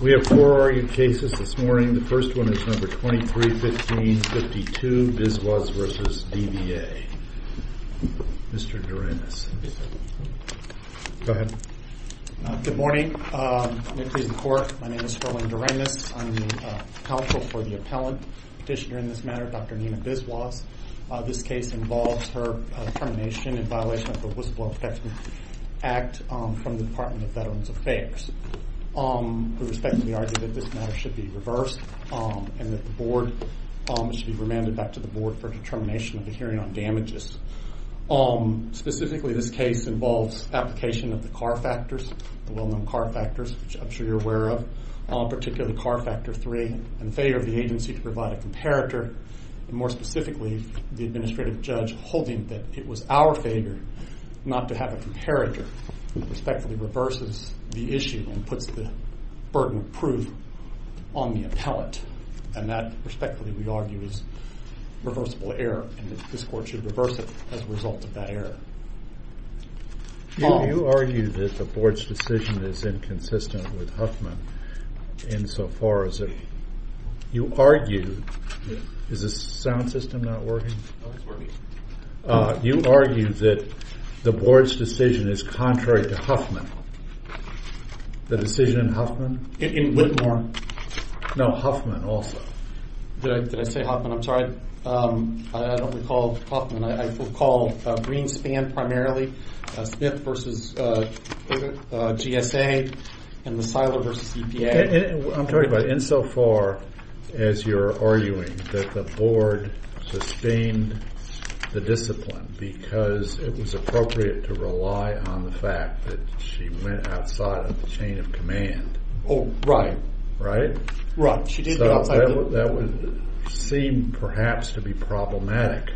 We have four argued cases this morning. The first one is number 23-15-52, Biswas v. DVA. Mr. Duranis. Go ahead. Good morning. My name is Herwin Duranis. I'm the counsel for the appellant petitioner in this matter, Dr. Nina Biswas. This case involves her termination in violation of the Whistleblower Protection Act from the Department of Veterans Affairs. We respectfully argue that this matter should be reversed and that the Board should be remanded back to the Board for determination of the hearing on damages. Specifically, this case involves application of the CAR Factors, the well-known CAR Factors, which I'm sure you're aware of, particularly CAR Factor 3, and failure of the agency to provide a comparator, and more specifically, the administrative judge holding that it was our failure not to have a comparator who respectfully reverses the issue and puts the burden of proof on the appellant. And that, respectfully, we argue is reversible error and that this Court should reverse it as a result of that error. You argue that the Board's decision is inconsistent with Huffman insofar as it – you argue – is the sound system not working? No, it's working. You argue that the Board's decision is contrary to Huffman. The decision in Huffman? In Whitmore. No, Huffman also. Did I say Huffman? I'm sorry. I don't recall Huffman. I recall Greenspan primarily, Smith versus GSA, and Lozano versus EPA. I'm talking about insofar as you're arguing that the Board sustained the discipline because it was appropriate to rely on the fact that she went outside of the chain of command. Oh, right. Right? Right. So that would seem perhaps to be problematic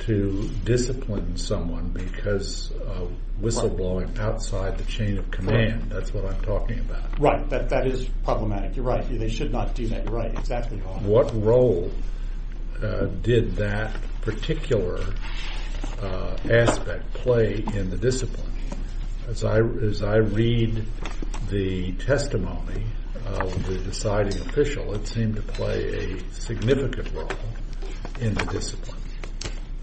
to discipline someone because of whistleblowing outside the chain of command. That's what I'm talking about. Right. That is problematic. You're right. They should not do that. You're right. Exactly. What role did that particular aspect play in the discipline? As I read the testimony of the deciding official, it seemed to play a significant role in the discipline.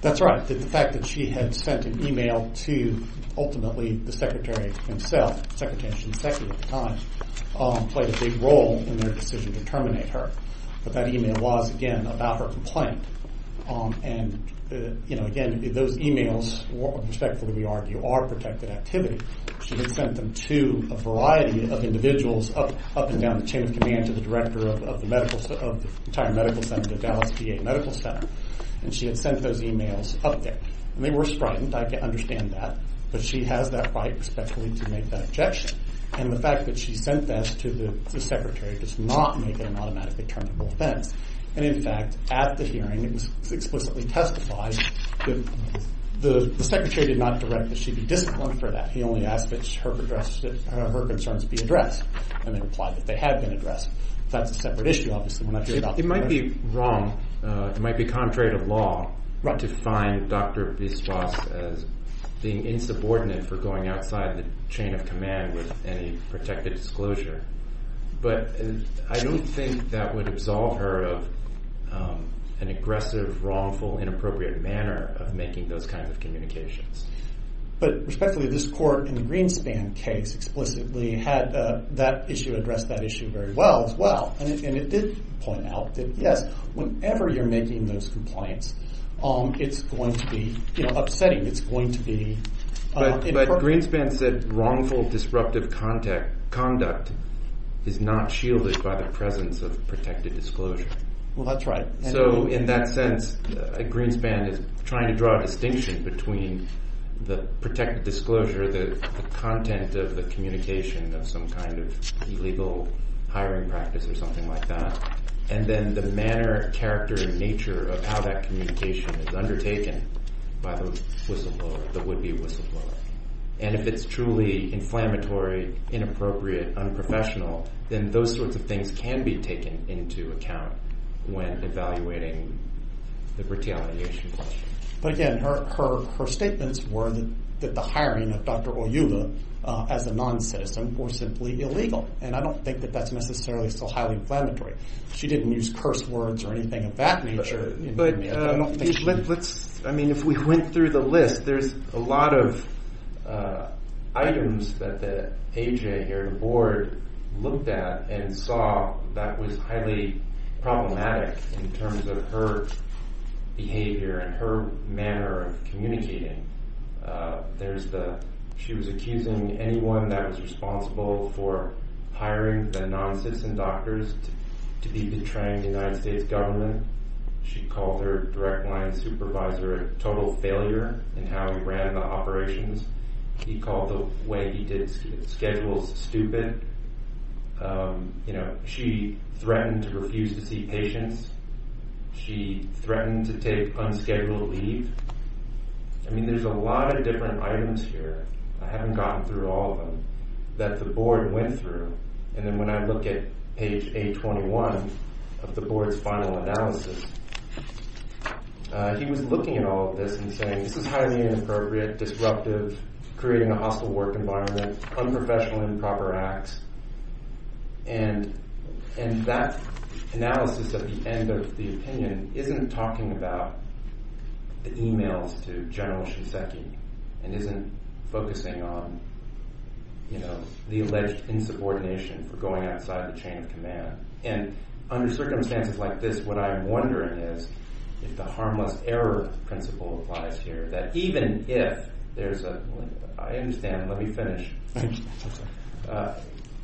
That's right. The fact that she had sent an email to ultimately the Secretary himself, the Secretary and Secretary at the time, played a big role in their decision to terminate her. But that email was, again, about her complaint. And again, those emails, respectfully we argue, are protected activity. She had sent them to a variety of individuals up and down the chain of command to the Director of the entire Medical Center, the Dallas VA Medical Center. And she had sent those emails up there. And they were strident. I can understand that. But she has that right, respectfully, to make that objection. And the fact that she sent that to the Secretary does not make it an automatically terminable offense. And in fact, at the hearing, it was explicitly testified that the Secretary did not direct that she be disciplined for that. He only asked that her concerns be addressed. And they replied that they had been addressed. That's a separate issue, obviously, when I hear about that. It might be wrong. It might be contrary to law to find Dr. Biswas as being insubordinate for going outside the chain of command with any protected disclosure. But I don't think that would absolve her of an aggressive, wrongful, inappropriate manner of making those kinds of communications. But respectfully, this court in the Greenspan case explicitly had that issue addressed that issue very well as well. And it did point out that, yes, whenever you're making those complaints, it's going to be upsetting. It's going to be... But Greenspan said wrongful, disruptive conduct is not shielded by the presence of protected disclosure. Well, that's right. So in that sense, Greenspan is trying to draw a distinction between the protected disclosure, the content of the communication of some kind of illegal hiring practice or something like that, and then the manner, character, nature of how that communication is undertaken by the whistleblower, the would-be whistleblower. And if it's truly inflammatory, inappropriate, unprofessional, then those sorts of things can be taken into account when evaluating the retaliation question. But again, her statements were that the hiring of Dr. Oyuga as a non-citizen was simply illegal. And I don't think that that's necessarily still highly inflammatory. She didn't use curse words or anything of that nature. But let's – I mean, if we went through the list, there's a lot of items that the A.J. here at the board looked at and saw that was highly problematic in terms of her behavior and her manner of communicating. There's the – she was accusing anyone that was responsible for hiring the non-citizen doctors to be betraying the United States government. She called her direct line supervisor a total failure in how he ran the operations. He called the way he did schedules stupid. You know, she threatened to refuse to see patients. She threatened to take unscheduled leave. I mean, there's a lot of different items here. I haven't gotten through all of them that the board went through. And then when I look at page 821 of the board's final analysis, he was looking at all of this and saying this is highly inappropriate, disruptive, creating a hostile work environment, unprofessional, improper acts. And that analysis at the end of the opinion isn't talking about the emails to General Shinseki and isn't focusing on the alleged insubordination for going outside the chain of command. And under circumstances like this, what I'm wondering is if the harmless error principle applies here, that even if there's a – I understand. Let me finish.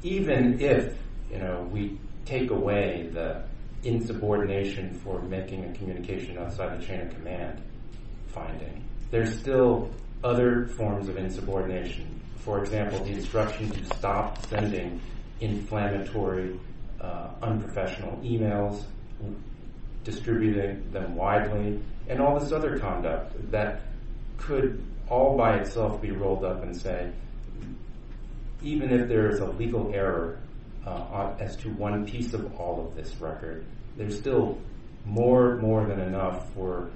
Even if, you know, we take away the insubordination for making a communication outside the chain of command finding, there's still other forms of insubordination. For example, the instruction to stop sending inflammatory, unprofessional emails, distributing them widely, and all this other conduct that could all by itself be rolled up and said even if there is a legal error as to one piece of all of this record, there's still more than enough for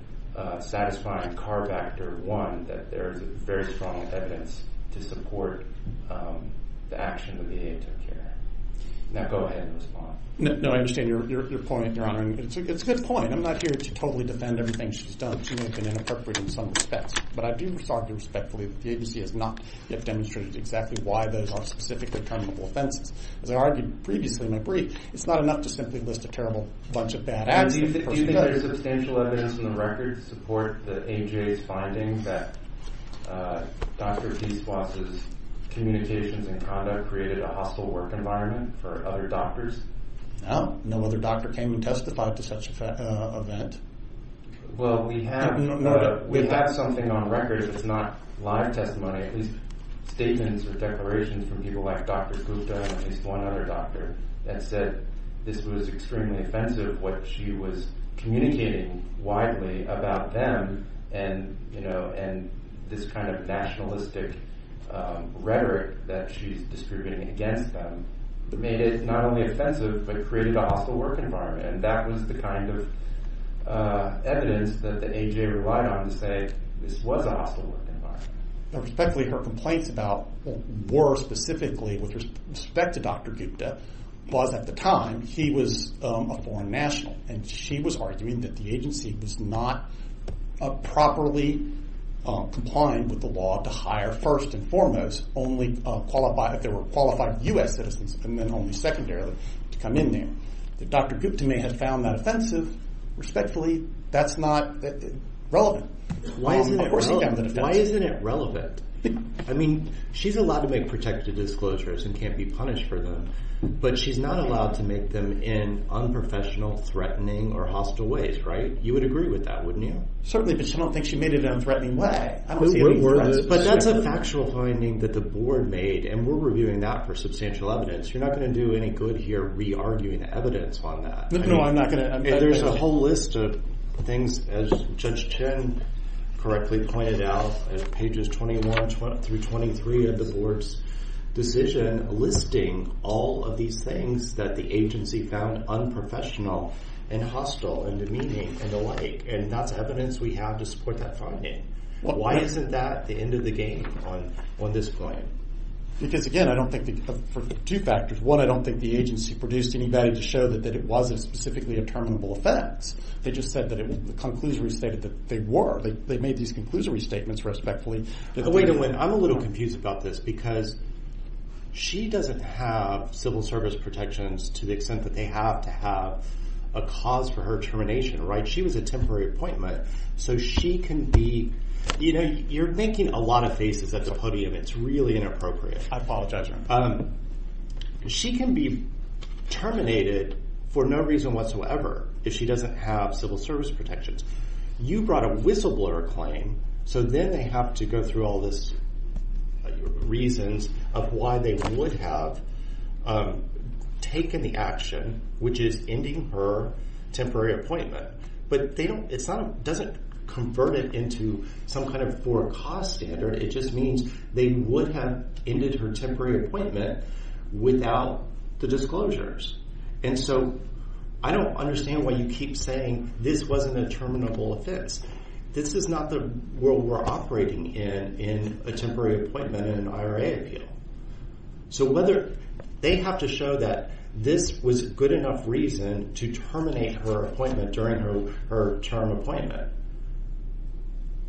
satisfying carbacter one that there is very strong evidence to support the action that the agency took care of. Now go ahead and respond. No, I understand your point, Your Honor. And it's a good point. I'm not here to totally defend everything she's done. She may have been inappropriate in some respects. But I do argue respectfully that the agency has not yet demonstrated exactly why those are specifically terminable offenses. As I argued previously in my brief, it's not enough to simply list a terrible bunch of bad acts. Do you think there's substantial evidence in the record to support the AJA's finding that Dr. P. Suase's communications and conduct created a hostile work environment for other doctors? No. No other doctor came and testified to such an event. Well, we have something on record that's not live testimony, at least statements or declarations from people like Dr. Gupta and at least one other doctor, that said this was extremely offensive what she was communicating widely about them. And this kind of nationalistic rhetoric that she's distributing against them made it not only offensive but created a hostile work environment. And that was the kind of evidence that the AJA relied on to say this was a hostile work environment. Respectfully, her complaints were specifically with respect to Dr. Gupta was at the time he was a foreign national. And she was arguing that the agency was not properly complying with the law to hire first and foremost only if they were qualified U.S. citizens and then only secondarily to come in there. Dr. Gupta may have found that offensive. Respectfully, that's not relevant. Why isn't it relevant? I mean, she's allowed to make protective disclosures and can't be punished for them. But she's not allowed to make them in unprofessional, threatening or hostile ways. Right. You would agree with that, wouldn't you? Certainly. But I don't think she made it in a threatening way. I don't see any threats. But that's a factual finding that the board made. And we're reviewing that for substantial evidence. You're not going to do any good here re-arguing the evidence on that. No, I'm not going to. There's a whole list of things, as Judge Chen correctly pointed out, pages 21 through 23 of the board's decision listing all of these things that the agency found unprofessional and hostile and demeaning and the like. And that's evidence we have to support that finding. Why isn't that the end of the game on this point? Because, again, I don't think – for two factors. One, I don't think the agency produced anybody to show that it wasn't specifically a terminable offense. They just said that it – the conclusory stated that they were. They made these conclusory statements respectfully. Wait a minute. I'm a little confused about this because she doesn't have civil service protections to the extent that they have to have a cause for her termination, right? She was a temporary appointment. So she can be – you know, you're making a lot of faces at the podium. It's really inappropriate. I apologize. She can be terminated for no reason whatsoever if she doesn't have civil service protections. You brought a whistleblower claim. So then they have to go through all these reasons of why they would have taken the action, which is ending her temporary appointment. But they don't – it's not – it doesn't convert it into some kind of forecast standard. It just means they would have ended her temporary appointment without the disclosures. And so I don't understand why you keep saying this wasn't a terminable offense. This is not the world we're operating in, in a temporary appointment in an IRA appeal. So whether – they have to show that this was good enough reason to terminate her appointment during her term appointment.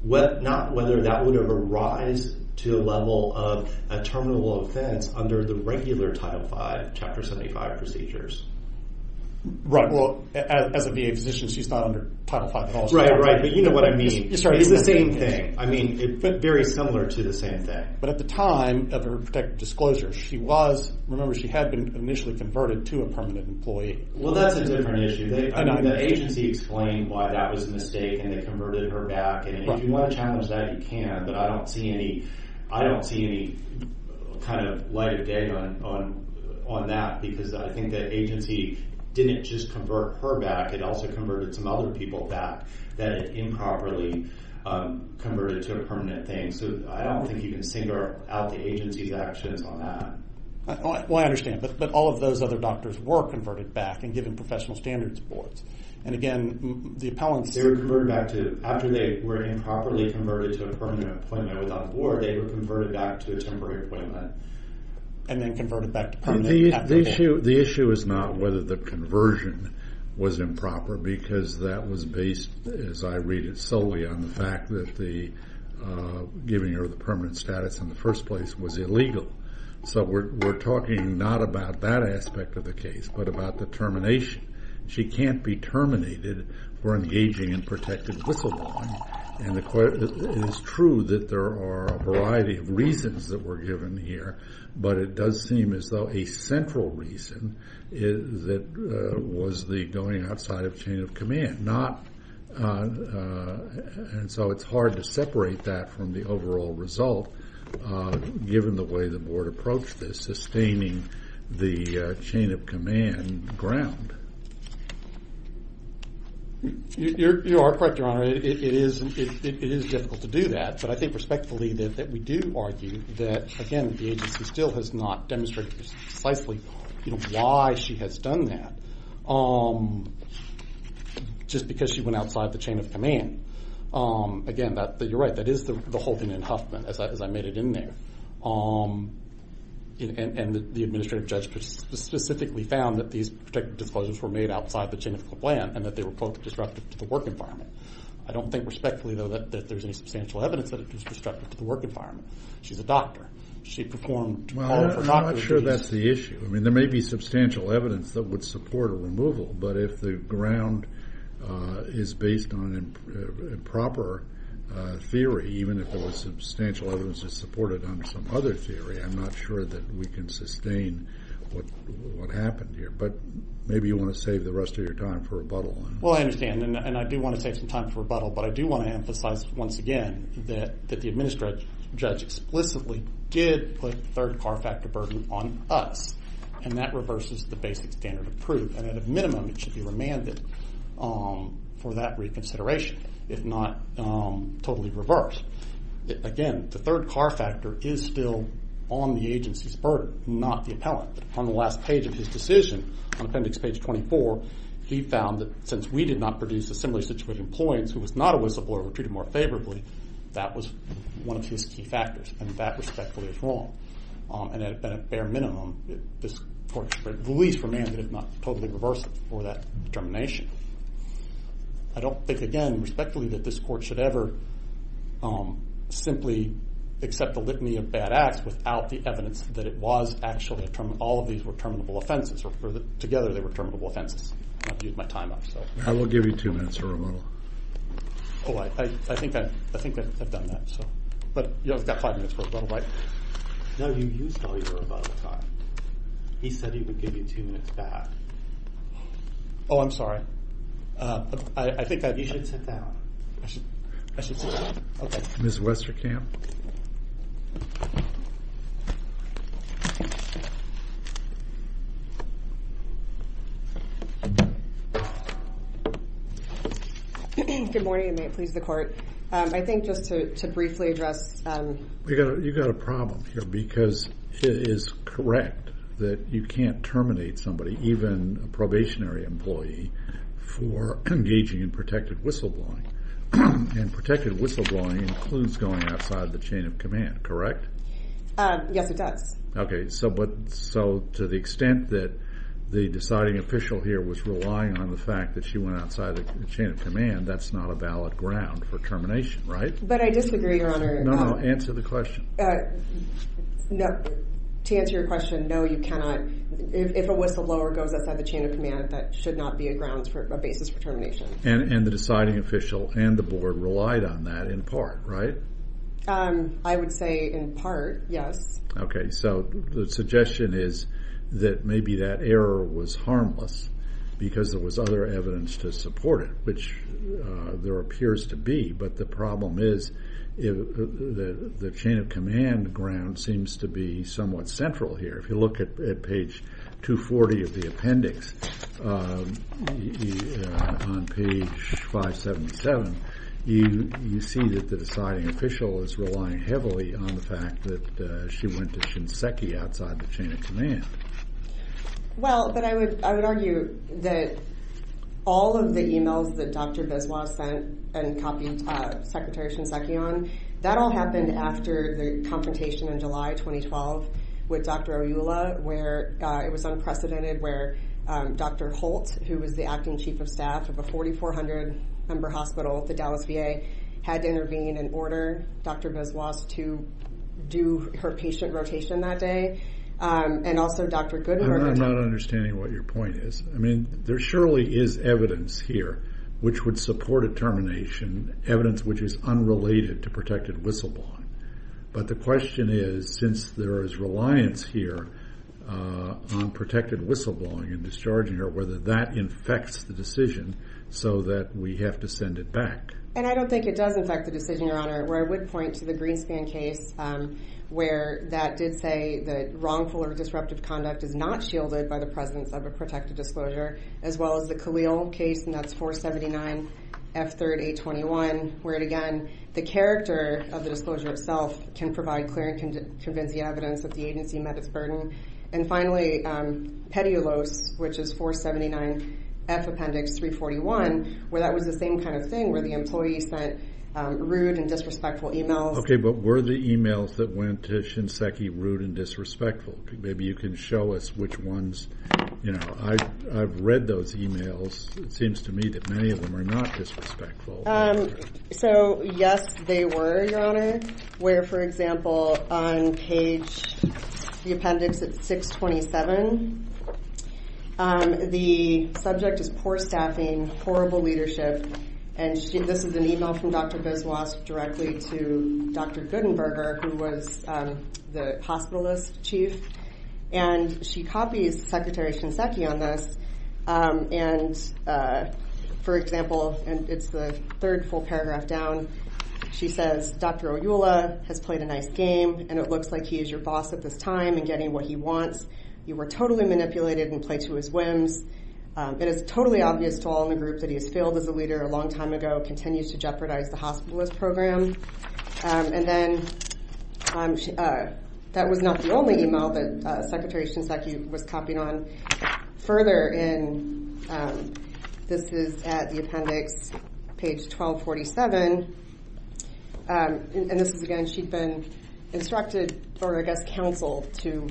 Not whether that would have a rise to a level of a terminable offense under the regular Title V, Chapter 75 procedures. Right. Well, as a VA physician, she's not under Title V at all. Right, right. But you know what I mean. It's the same thing. I mean, it's very similar to the same thing. But at the time of her protective disclosure, she was – remember, she had been initially converted to a permanent employee. Well, that's a different issue. The agency explained why that was a mistake and they converted her back. And if you want to challenge that, you can. But I don't see any kind of light of day on that because I think the agency didn't just convert her back. It also converted some other people back that it improperly converted to a permanent thing. So I don't think you can single out the agency's actions on that. Well, I understand. But all of those other doctors were converted back and given professional standards awards. And again, the appellants – They were converted back to – after they were improperly converted to a permanent appointment without a board, they were converted back to a temporary appointment. And then converted back to permanent. The issue is not whether the conversion was improper because that was based, as I read it solely, on the fact that giving her the permanent status in the first place was illegal. So we're talking not about that aspect of the case but about the termination. She can't be terminated for engaging in protected whistleblowing. And it is true that there are a variety of reasons that were given here, but it does seem as though a central reason was the going outside of chain of command. And so it's hard to separate that from the overall result given the way the board approached this, sustaining the chain of command ground. You are correct, Your Honor. It is difficult to do that. But I think respectfully that we do argue that, again, the agency still has not demonstrated precisely why she has done that. It's just because she went outside the chain of command. Again, you're right. That is the whole thing in Huffman as I made it in there. And the administrative judge specifically found that these protected disclosures were made outside the chain of command and that they were, quote, disruptive to the work environment. I don't think respectfully, though, that there's any substantial evidence that it was disruptive to the work environment. She's a doctor. She performed all of her doctor's duties. Well, I'm not sure that's the issue. I mean, there may be substantial evidence that would support a removal, but if the ground is based on improper theory, even if there was substantial evidence to support it under some other theory, I'm not sure that we can sustain what happened here. But maybe you want to save the rest of your time for rebuttal. Well, I understand. And I do want to save some time for rebuttal, but I do want to emphasize once again that the administrative judge explicitly did put the third car factor burden on us, and that reverses the basic standard of proof. And at a minimum, it should be remanded for that reconsideration, if not totally reversed. Again, the third car factor is still on the agency's burden, not the appellant. On the last page of his decision, on appendix page 24, he found that since we did not produce a similar situation to the employees who was not a whistleblower or treated more favorably, that was one of his key factors, and that respectfully is wrong. And at a bare minimum, this court should release remanded, if not totally reversed, for that determination. I don't think, again, respectfully, that this court should ever simply accept the litany of bad acts without the evidence that it was actually all of these were terminable offenses, or together they were terminable offenses. I'm going to have to use my time up. I will give you two minutes for rebuttal. I think I've done that. But I've got five minutes for rebuttal, right? No, you used all your rebuttal time. He said he would give you two minutes back. Oh, I'm sorry. I think that you should sit down. I should sit down. Okay. Ms. Westerkamp. Good morning, and may it please the Court. I think just to briefly address... You've got a problem here because it is correct that you can't terminate somebody, even a probationary employee, for engaging in protected whistleblowing. And protected whistleblowing includes going outside the chain of command, correct? Yes, it does. Okay. So to the extent that the deciding official here was relying on the fact that she went outside the chain of command, that's not a valid ground for termination, right? But I disagree, Your Honor. No, no. Answer the question. No. To answer your question, no, you cannot. If a whistleblower goes outside the chain of command, that should not be a basis for termination. And the deciding official and the Board relied on that in part, right? I would say in part, yes. Okay. So the suggestion is that maybe that error was harmless because there was other evidence to support it, which there appears to be. But the problem is the chain of command ground seems to be somewhat central here. If you look at page 240 of the appendix on page 577, you see that the deciding official is relying heavily on the fact that she went to Shinseki outside the chain of command. Well, but I would argue that all of the e-mails that Dr. Biswa sent and copied Secretary Shinseki on, that all happened after the confrontation in July 2012 with Dr. Oyula, where it was unprecedented where Dr. Holt, who was the acting chief of staff of a 4,400-member hospital at the Dallas VA, had to intervene and order Dr. Biswa to do her patient rotation that day, and also Dr. Goodman. I'm not understanding what your point is. I mean, there surely is evidence here which would support a termination, evidence which is unrelated to protected whistleblowing. But the question is, since there is reliance here on protected whistleblowing and discharging her, whether that infects the decision so that we have to send it back. And I don't think it does infect the decision, Your Honor, where I would point to the Greenspan case where that did say that wrongful or disruptive conduct is not shielded by the presence of a protected disclosure, as well as the Khalil case, and that's 479 F3-821, where, again, the character of the disclosure itself can provide clear and convincing evidence that the agency met its burden. And finally, Petiolos, which is 479 F Appendix 341, where that was the same kind of thing, where the employee sent rude and disrespectful e-mails. Okay, but were the e-mails that went to Shinseki rude and disrespectful? Maybe you can show us which ones. You know, I've read those e-mails. It seems to me that many of them are not disrespectful. So, yes, they were, Your Honor, where, for example, on page, the appendix at 627, the subject is poor staffing, horrible leadership, and this is an e-mail from Dr. Biswas directly to Dr. Gutenberger, who was the hospitalist chief. And she copies Secretary Shinseki on this, and, for example, and it's the third full paragraph down, she says, Dr. Oyula has played a nice game, and it looks like he is your boss at this time in getting what he wants. You were totally manipulated and played to his whims. It is totally obvious to all in the group that he has failed as a leader a long time ago, continues to jeopardize the hospitalist program. And then that was not the only e-mail that Secretary Shinseki was copying on. Further in, this is at the appendix, page 1247, and this is, again, she'd been instructed for a guest counsel to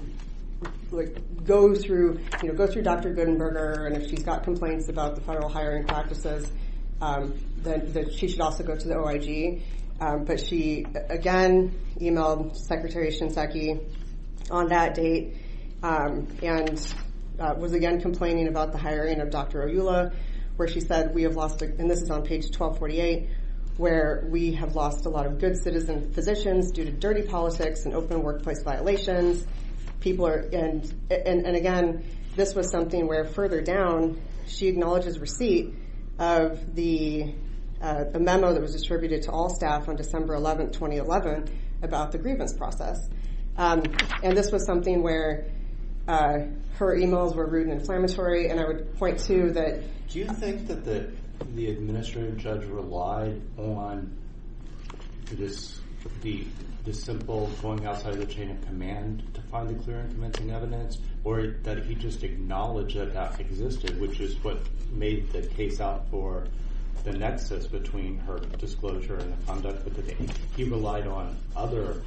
go through Dr. Gutenberger, and if she's got complaints about the federal hiring practices, then she should also go to the OIG. But she, again, e-mailed Secretary Shinseki on that date and was, again, complaining about the hiring of Dr. Oyula, where she said, we have lost, and this is on page 1248, where we have lost a lot of good citizen physicians due to dirty politics and open workplace violations. And, again, this was something where, further down, she acknowledges receipt of the memo that was distributed to all staff on December 11, 2011, about the grievance process. And this was something where her e-mails were rude and inflammatory, and I would point to that. Do you think that the administrative judge relied on this simple going outside the chain of command to find the clear and convincing evidence, or did he just acknowledge that that existed, which is what made the case out for the nexus between her disclosure and the conduct with the date? He relied on other,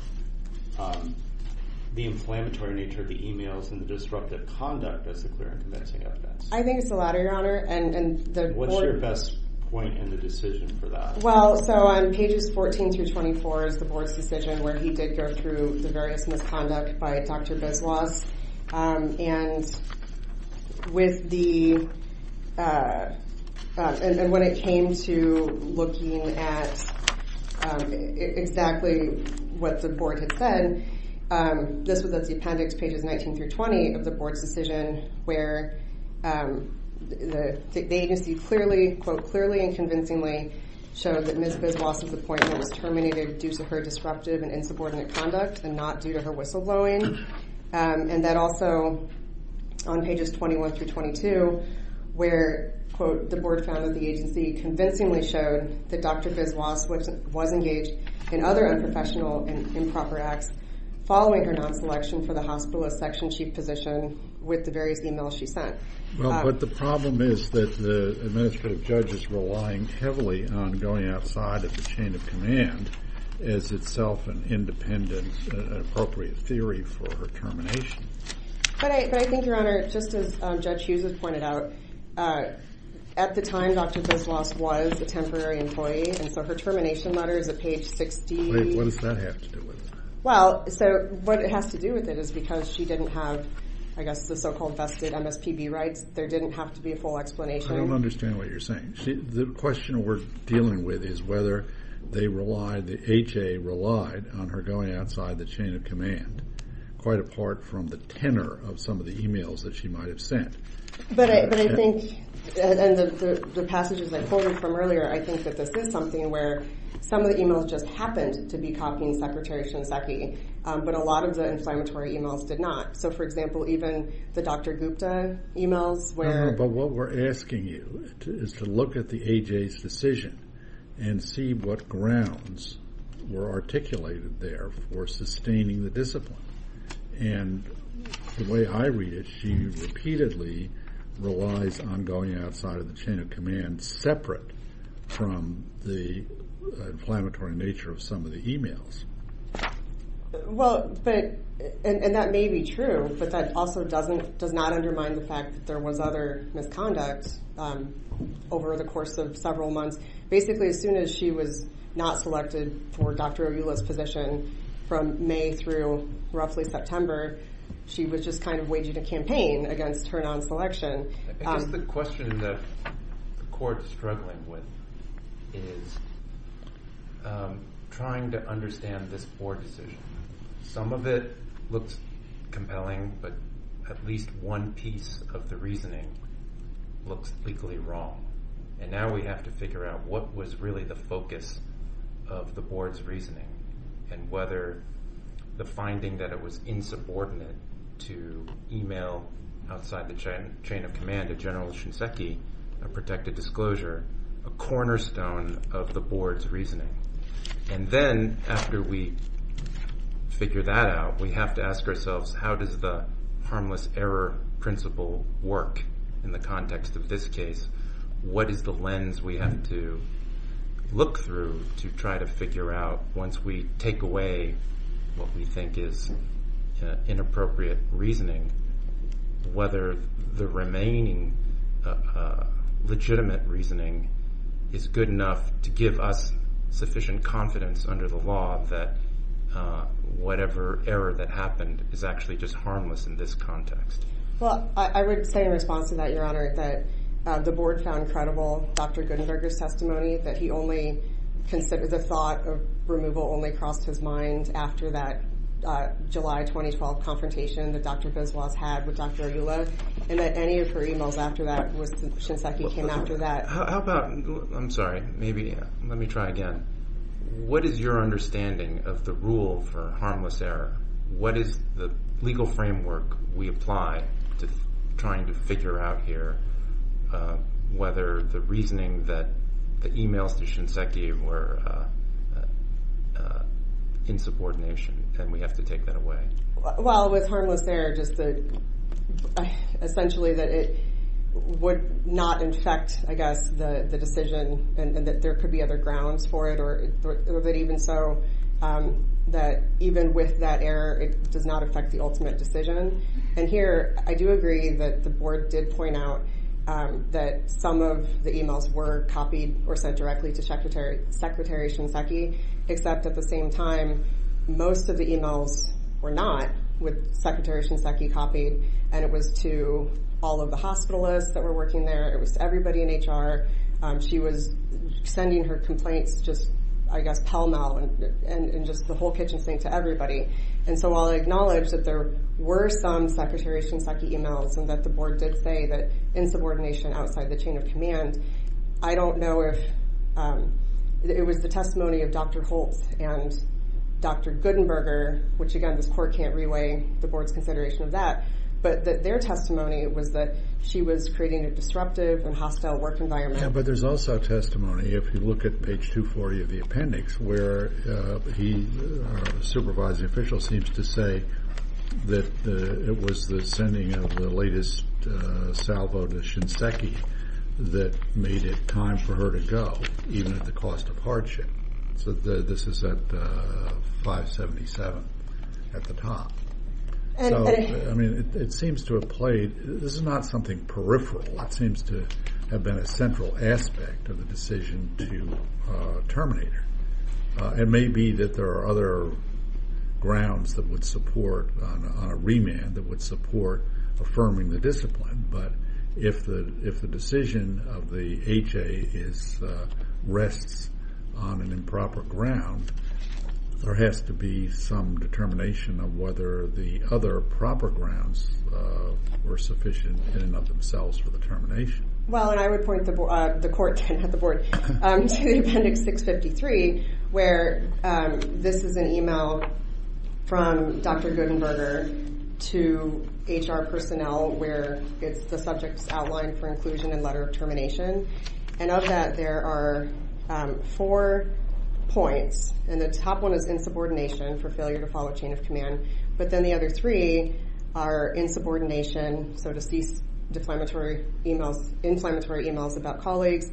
the inflammatory nature of the e-mails and the disruptive conduct as the clear and convincing evidence. I think it's the latter, Your Honor. What's your best point in the decision for that? Well, so on pages 14 through 24 is the board's decision, where he did go through the various misconduct by Dr. Biswas. And when it came to looking at exactly what the board had said, this was at the appendix, pages 19 through 20 of the board's decision, where the agency clearly, quote, clearly and convincingly showed that Ms. Biswas' appointment was terminated due to her disruptive and insubordinate conduct and not due to her whistleblowing. And that also, on pages 21 through 22, where, quote, the board found that the agency convincingly showed that Dr. Biswas was engaged in other unprofessional and improper acts following her non-selection for the hospitalist section chief position with the various e-mails she sent. Well, but the problem is that the administrative judge is relying heavily on going outside of the chain of command as itself an independent and appropriate theory for her termination. But I think, Your Honor, just as Judge Hughes has pointed out, at the time Dr. Biswas was a temporary employee, and so her termination letter is at page 16. Wait, what does that have to do with it? Well, so what it has to do with it is because she didn't have, I guess, the so-called vested MSPB rights. There didn't have to be a full explanation. I don't understand what you're saying. The question we're dealing with is whether they relied, the HA relied on her going outside the chain of command, quite apart from the tenor of some of the e-mails that she might have sent. But I think, and the passages I quoted from earlier, I think that this is something where some of the e-mails just happened to be copying Secretary Shinseki, but a lot of the inflammatory e-mails did not. So, for example, even the Dr. Gupta e-mails were. But what we're asking you is to look at the AHA's decision and see what grounds were articulated there for sustaining the discipline. And the way I read it, she repeatedly relies on going outside of the chain of command, separate from the inflammatory nature of some of the e-mails. Well, and that may be true, but that also does not undermine the fact that there was other misconduct over the course of several months. Basically, as soon as she was not selected for Dr. Ayula's position, from May through roughly September, she was just kind of waging a campaign against her non-selection. I guess the question that the court is struggling with is trying to understand this board decision. Some of it looks compelling, but at least one piece of the reasoning looks legally wrong. And now we have to figure out what was really the focus of the board's reasoning and whether the finding that it was insubordinate to e-mail outside the chain of command to General Shinseki, a protected disclosure, a cornerstone of the board's reasoning. And then after we figure that out, we have to ask ourselves how does the harmless error principle work in the context of this case? What is the lens we have to look through to try to figure out, once we take away what we think is inappropriate reasoning, whether the remaining legitimate reasoning is good enough to give us sufficient confidence under the law that whatever error that happened is actually just harmless in this context? Well, I would say in response to that, Your Honor, that the board found credible Dr. Gutenberger's testimony, that the thought of removal only crossed his mind after that July 2012 confrontation that Dr. Biswas had with Dr. Ayula, and that any of her e-mails after that was that Shinseki came after that. How about, I'm sorry, maybe let me try again. What is your understanding of the rule for harmless error? What is the legal framework we apply to trying to figure out here whether the reasoning that the e-mails to Shinseki were insubordination, and we have to take that away? Well, with harmless error, just essentially that it would not infect, I guess, the decision, and that there could be other grounds for it, or that even so, that even with that error, it does not affect the ultimate decision. And here, I do agree that the board did point out that some of the e-mails were copied or sent directly to Secretary Shinseki, except at the same time, most of the e-mails were not, with Secretary Shinseki copied, and it was to all of the hospitalists that were working there, it was to everybody in HR. She was sending her complaints just, I guess, pell-mell, and just the whole kitchen sink to everybody. And so while I acknowledge that there were some Secretary Shinseki e-mails and that the board did say that insubordination outside the chain of command, I don't know if it was the testimony of Dr. Holtz and Dr. Gutenberger, which again, this court can't reweigh the board's consideration of that, but that their testimony was that she was creating a disruptive and hostile work environment. Yeah, but there's also testimony, if you look at page 240 of the appendix, where he, our supervising official, seems to say that it was the sending of the latest salvo to Shinseki that made it time for her to go, even at the cost of hardship. So this is at 577 at the top. So, I mean, it seems to have played, this is not something peripheral. It seems to have been a central aspect of the decision to terminate her. It may be that there are other grounds that would support, on a remand, that would support affirming the discipline, but if the decision of the HA rests on an improper ground, there has to be some determination of whether the other proper grounds were sufficient in and of themselves for the termination. Well, and I would point the court, not the board, to the appendix 653, where this is an email from Dr. Gutenberger to HR personnel, where it's the subject's outline for inclusion and letter of termination. And of that, there are four points, and the top one is insubordination for failure to follow chain of command. But then the other three are insubordination, so to cease inflammatory emails about colleagues,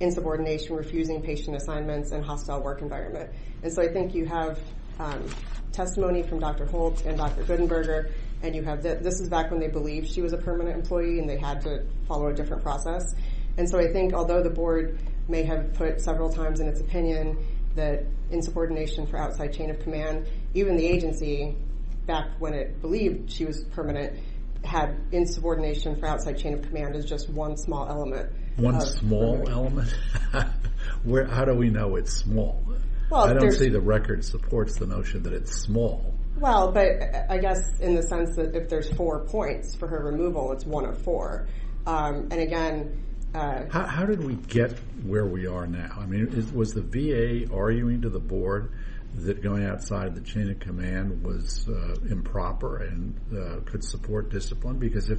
insubordination, refusing patient assignments, and hostile work environment. And so I think you have testimony from Dr. Holtz and Dr. Gutenberger, and this is back when they believed she was a permanent employee and they had to follow a different process. And so I think, although the board may have put several times in its opinion that insubordination for outside chain of command, even the agency, back when it believed she was permanent, had insubordination for outside chain of command as just one small element. One small element? How do we know it's small? I don't see the record supports the notion that it's small. Well, but I guess in the sense that if there's four points for her removal, it's one of four. And again— How did we get where we are now? I mean, was the VA arguing to the board that going outside the chain of command was improper and could support discipline? Because if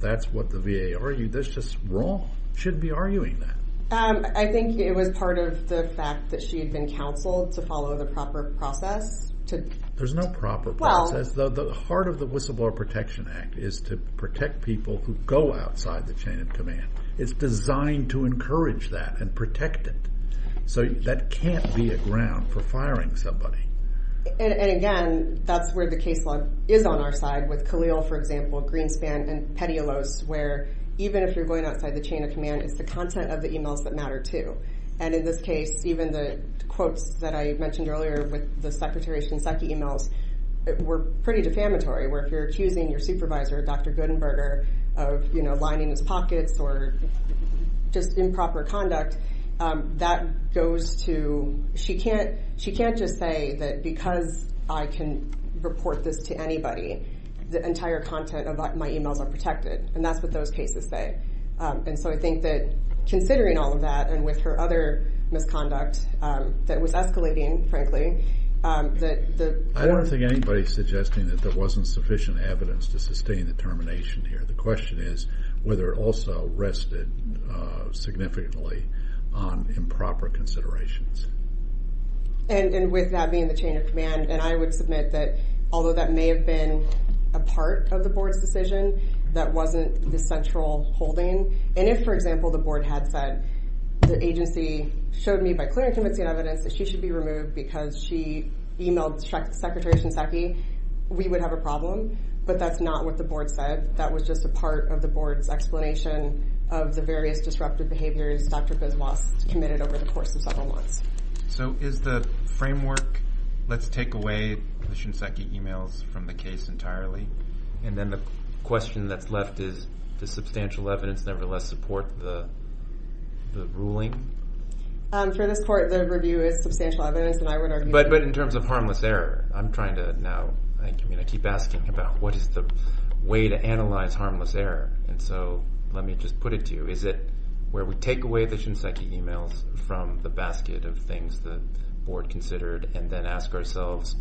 that's what the VA argued, that's just wrong. You shouldn't be arguing that. I think it was part of the fact that she had been counseled to follow the proper process. There's no proper process. The heart of the Whistleblower Protection Act is to protect people who go outside the chain of command. It's designed to encourage that and protect it. So that can't be a ground for firing somebody. And again, that's where the case law is on our side, with Khalil, for example, Greenspan, and Petialos, where even if you're going outside the chain of command, it's the content of the emails that matter too. And in this case, even the quotes that I mentioned earlier with the Secretary Shinseki emails were pretty defamatory, where if you're accusing your supervisor, Dr. Gutenberger, of lining his pockets or just improper conduct, that goes to she can't just say that because I can report this to anybody, the entire content of my emails are protected. And that's what those cases say. And so I think that considering all of that, and with her other misconduct that was escalating, frankly, that the I don't think anybody's suggesting that there wasn't sufficient evidence to sustain the termination here. The question is whether it also rested significantly on improper considerations. And with that being the chain of command, and I would submit that although that may have been a part of the Board's decision, that wasn't the central holding. And if, for example, the Board had said, the agency showed me by clear and convincing evidence that she should be removed because she emailed Secretary Shinseki, we would have a problem. But that's not what the Board said. That was just a part of the Board's explanation of the various disruptive behaviors Dr. Biswas committed over the course of several months. So is the framework, let's take away the Shinseki emails from the case entirely, and then the question that's left is, does substantial evidence nevertheless support the ruling? For this Court, the review is substantial evidence, and I would argue that. But in terms of harmless error, I'm trying to now, I mean, I keep asking about what is the way to analyze harmless error. And so let me just put it to you. Is it where we take away the Shinseki emails from the basket of things the Board considered and then ask ourselves,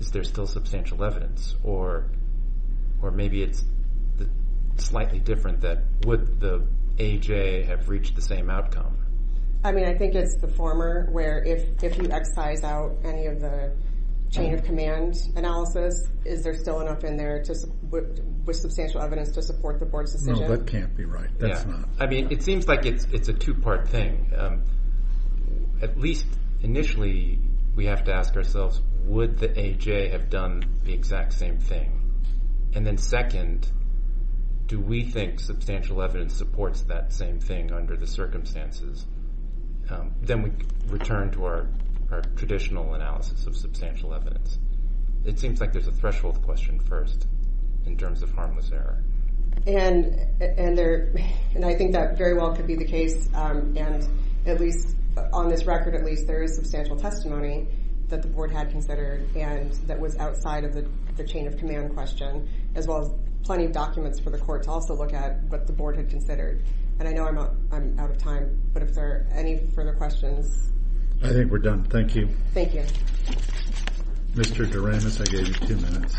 is there still substantial evidence? Or maybe it's slightly different that would the AJ have reached the same outcome? I mean, I think it's the former where if you excise out any of the chain of command analysis, is there still enough in there with substantial evidence to support the Board's decision? No, that can't be right. That's not. I mean, it seems like it's a two-part thing. At least initially we have to ask ourselves, would the AJ have done the exact same thing? And then second, do we think substantial evidence supports that same thing under the circumstances? Then we return to our traditional analysis of substantial evidence. It seems like there's a threshold question first in terms of harmless error. And I think that very well could be the case. And at least on this record, at least there is substantial testimony that the Board had considered and that was outside of the chain of command question, as well as plenty of documents for the Court to also look at what the Board had considered. And I know I'm out of time, but if there are any further questions. I think we're done. Thank you. Thank you. Mr. Doremus, I gave you two minutes.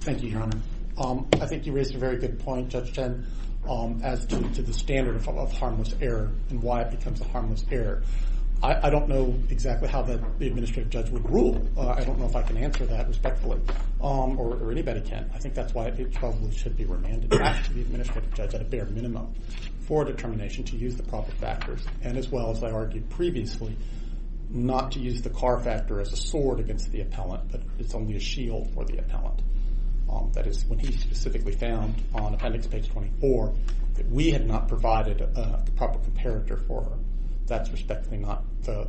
Thank you, Your Honor. I think you raised a very good point, Judge Chen, as to the standard of harmless error and why it becomes a harmless error. I don't know exactly how the administrative judge would rule. I don't know if I can answer that respectfully, or anybody can. I think that's why it probably should be remanded back to the administrative judge at a bare minimum for determination to use the proper factors, and as well as I argued previously, not to use the car factor as a sword against the appellant, but it's only a shield for the appellant. That is when he specifically found on Appendix Page 24 that we had not provided the proper comparator for her. That's respectfully not the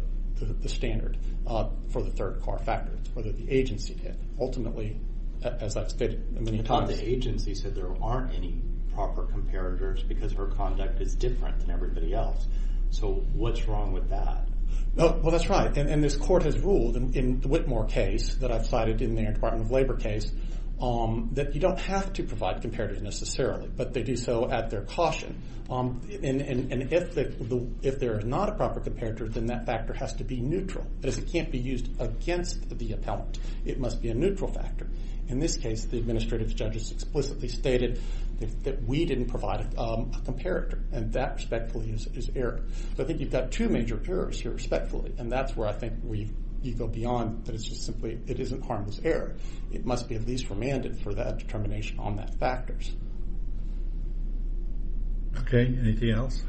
standard for the third car factor. It's whether the agency did. Ultimately, as I've stated many times... The agency said there aren't any proper comparators because her conduct is different than everybody else. So what's wrong with that? Well, that's right, and this court has ruled in the Whitmore case that I've cited in the Air Department of Labor case that you don't have to provide comparators necessarily, but they do so at their caution. And if there is not a proper comparator, then that factor has to be neutral. It can't be used against the appellant. It must be a neutral factor. In this case, the administrative judge has explicitly stated that we didn't provide a comparator, and that, respectfully, is error. So I think you've got two major errors here, respectfully, and that's where I think you go beyond that it's just simply it isn't harmless error. It must be at least remanded for that determination on that factors. Okay, anything else?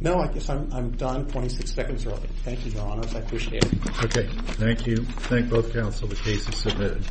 No, I guess I'm done 26 seconds early. Thank you, Your Honors. I appreciate it. Okay, thank you. Thank both counsel. The case is submitted.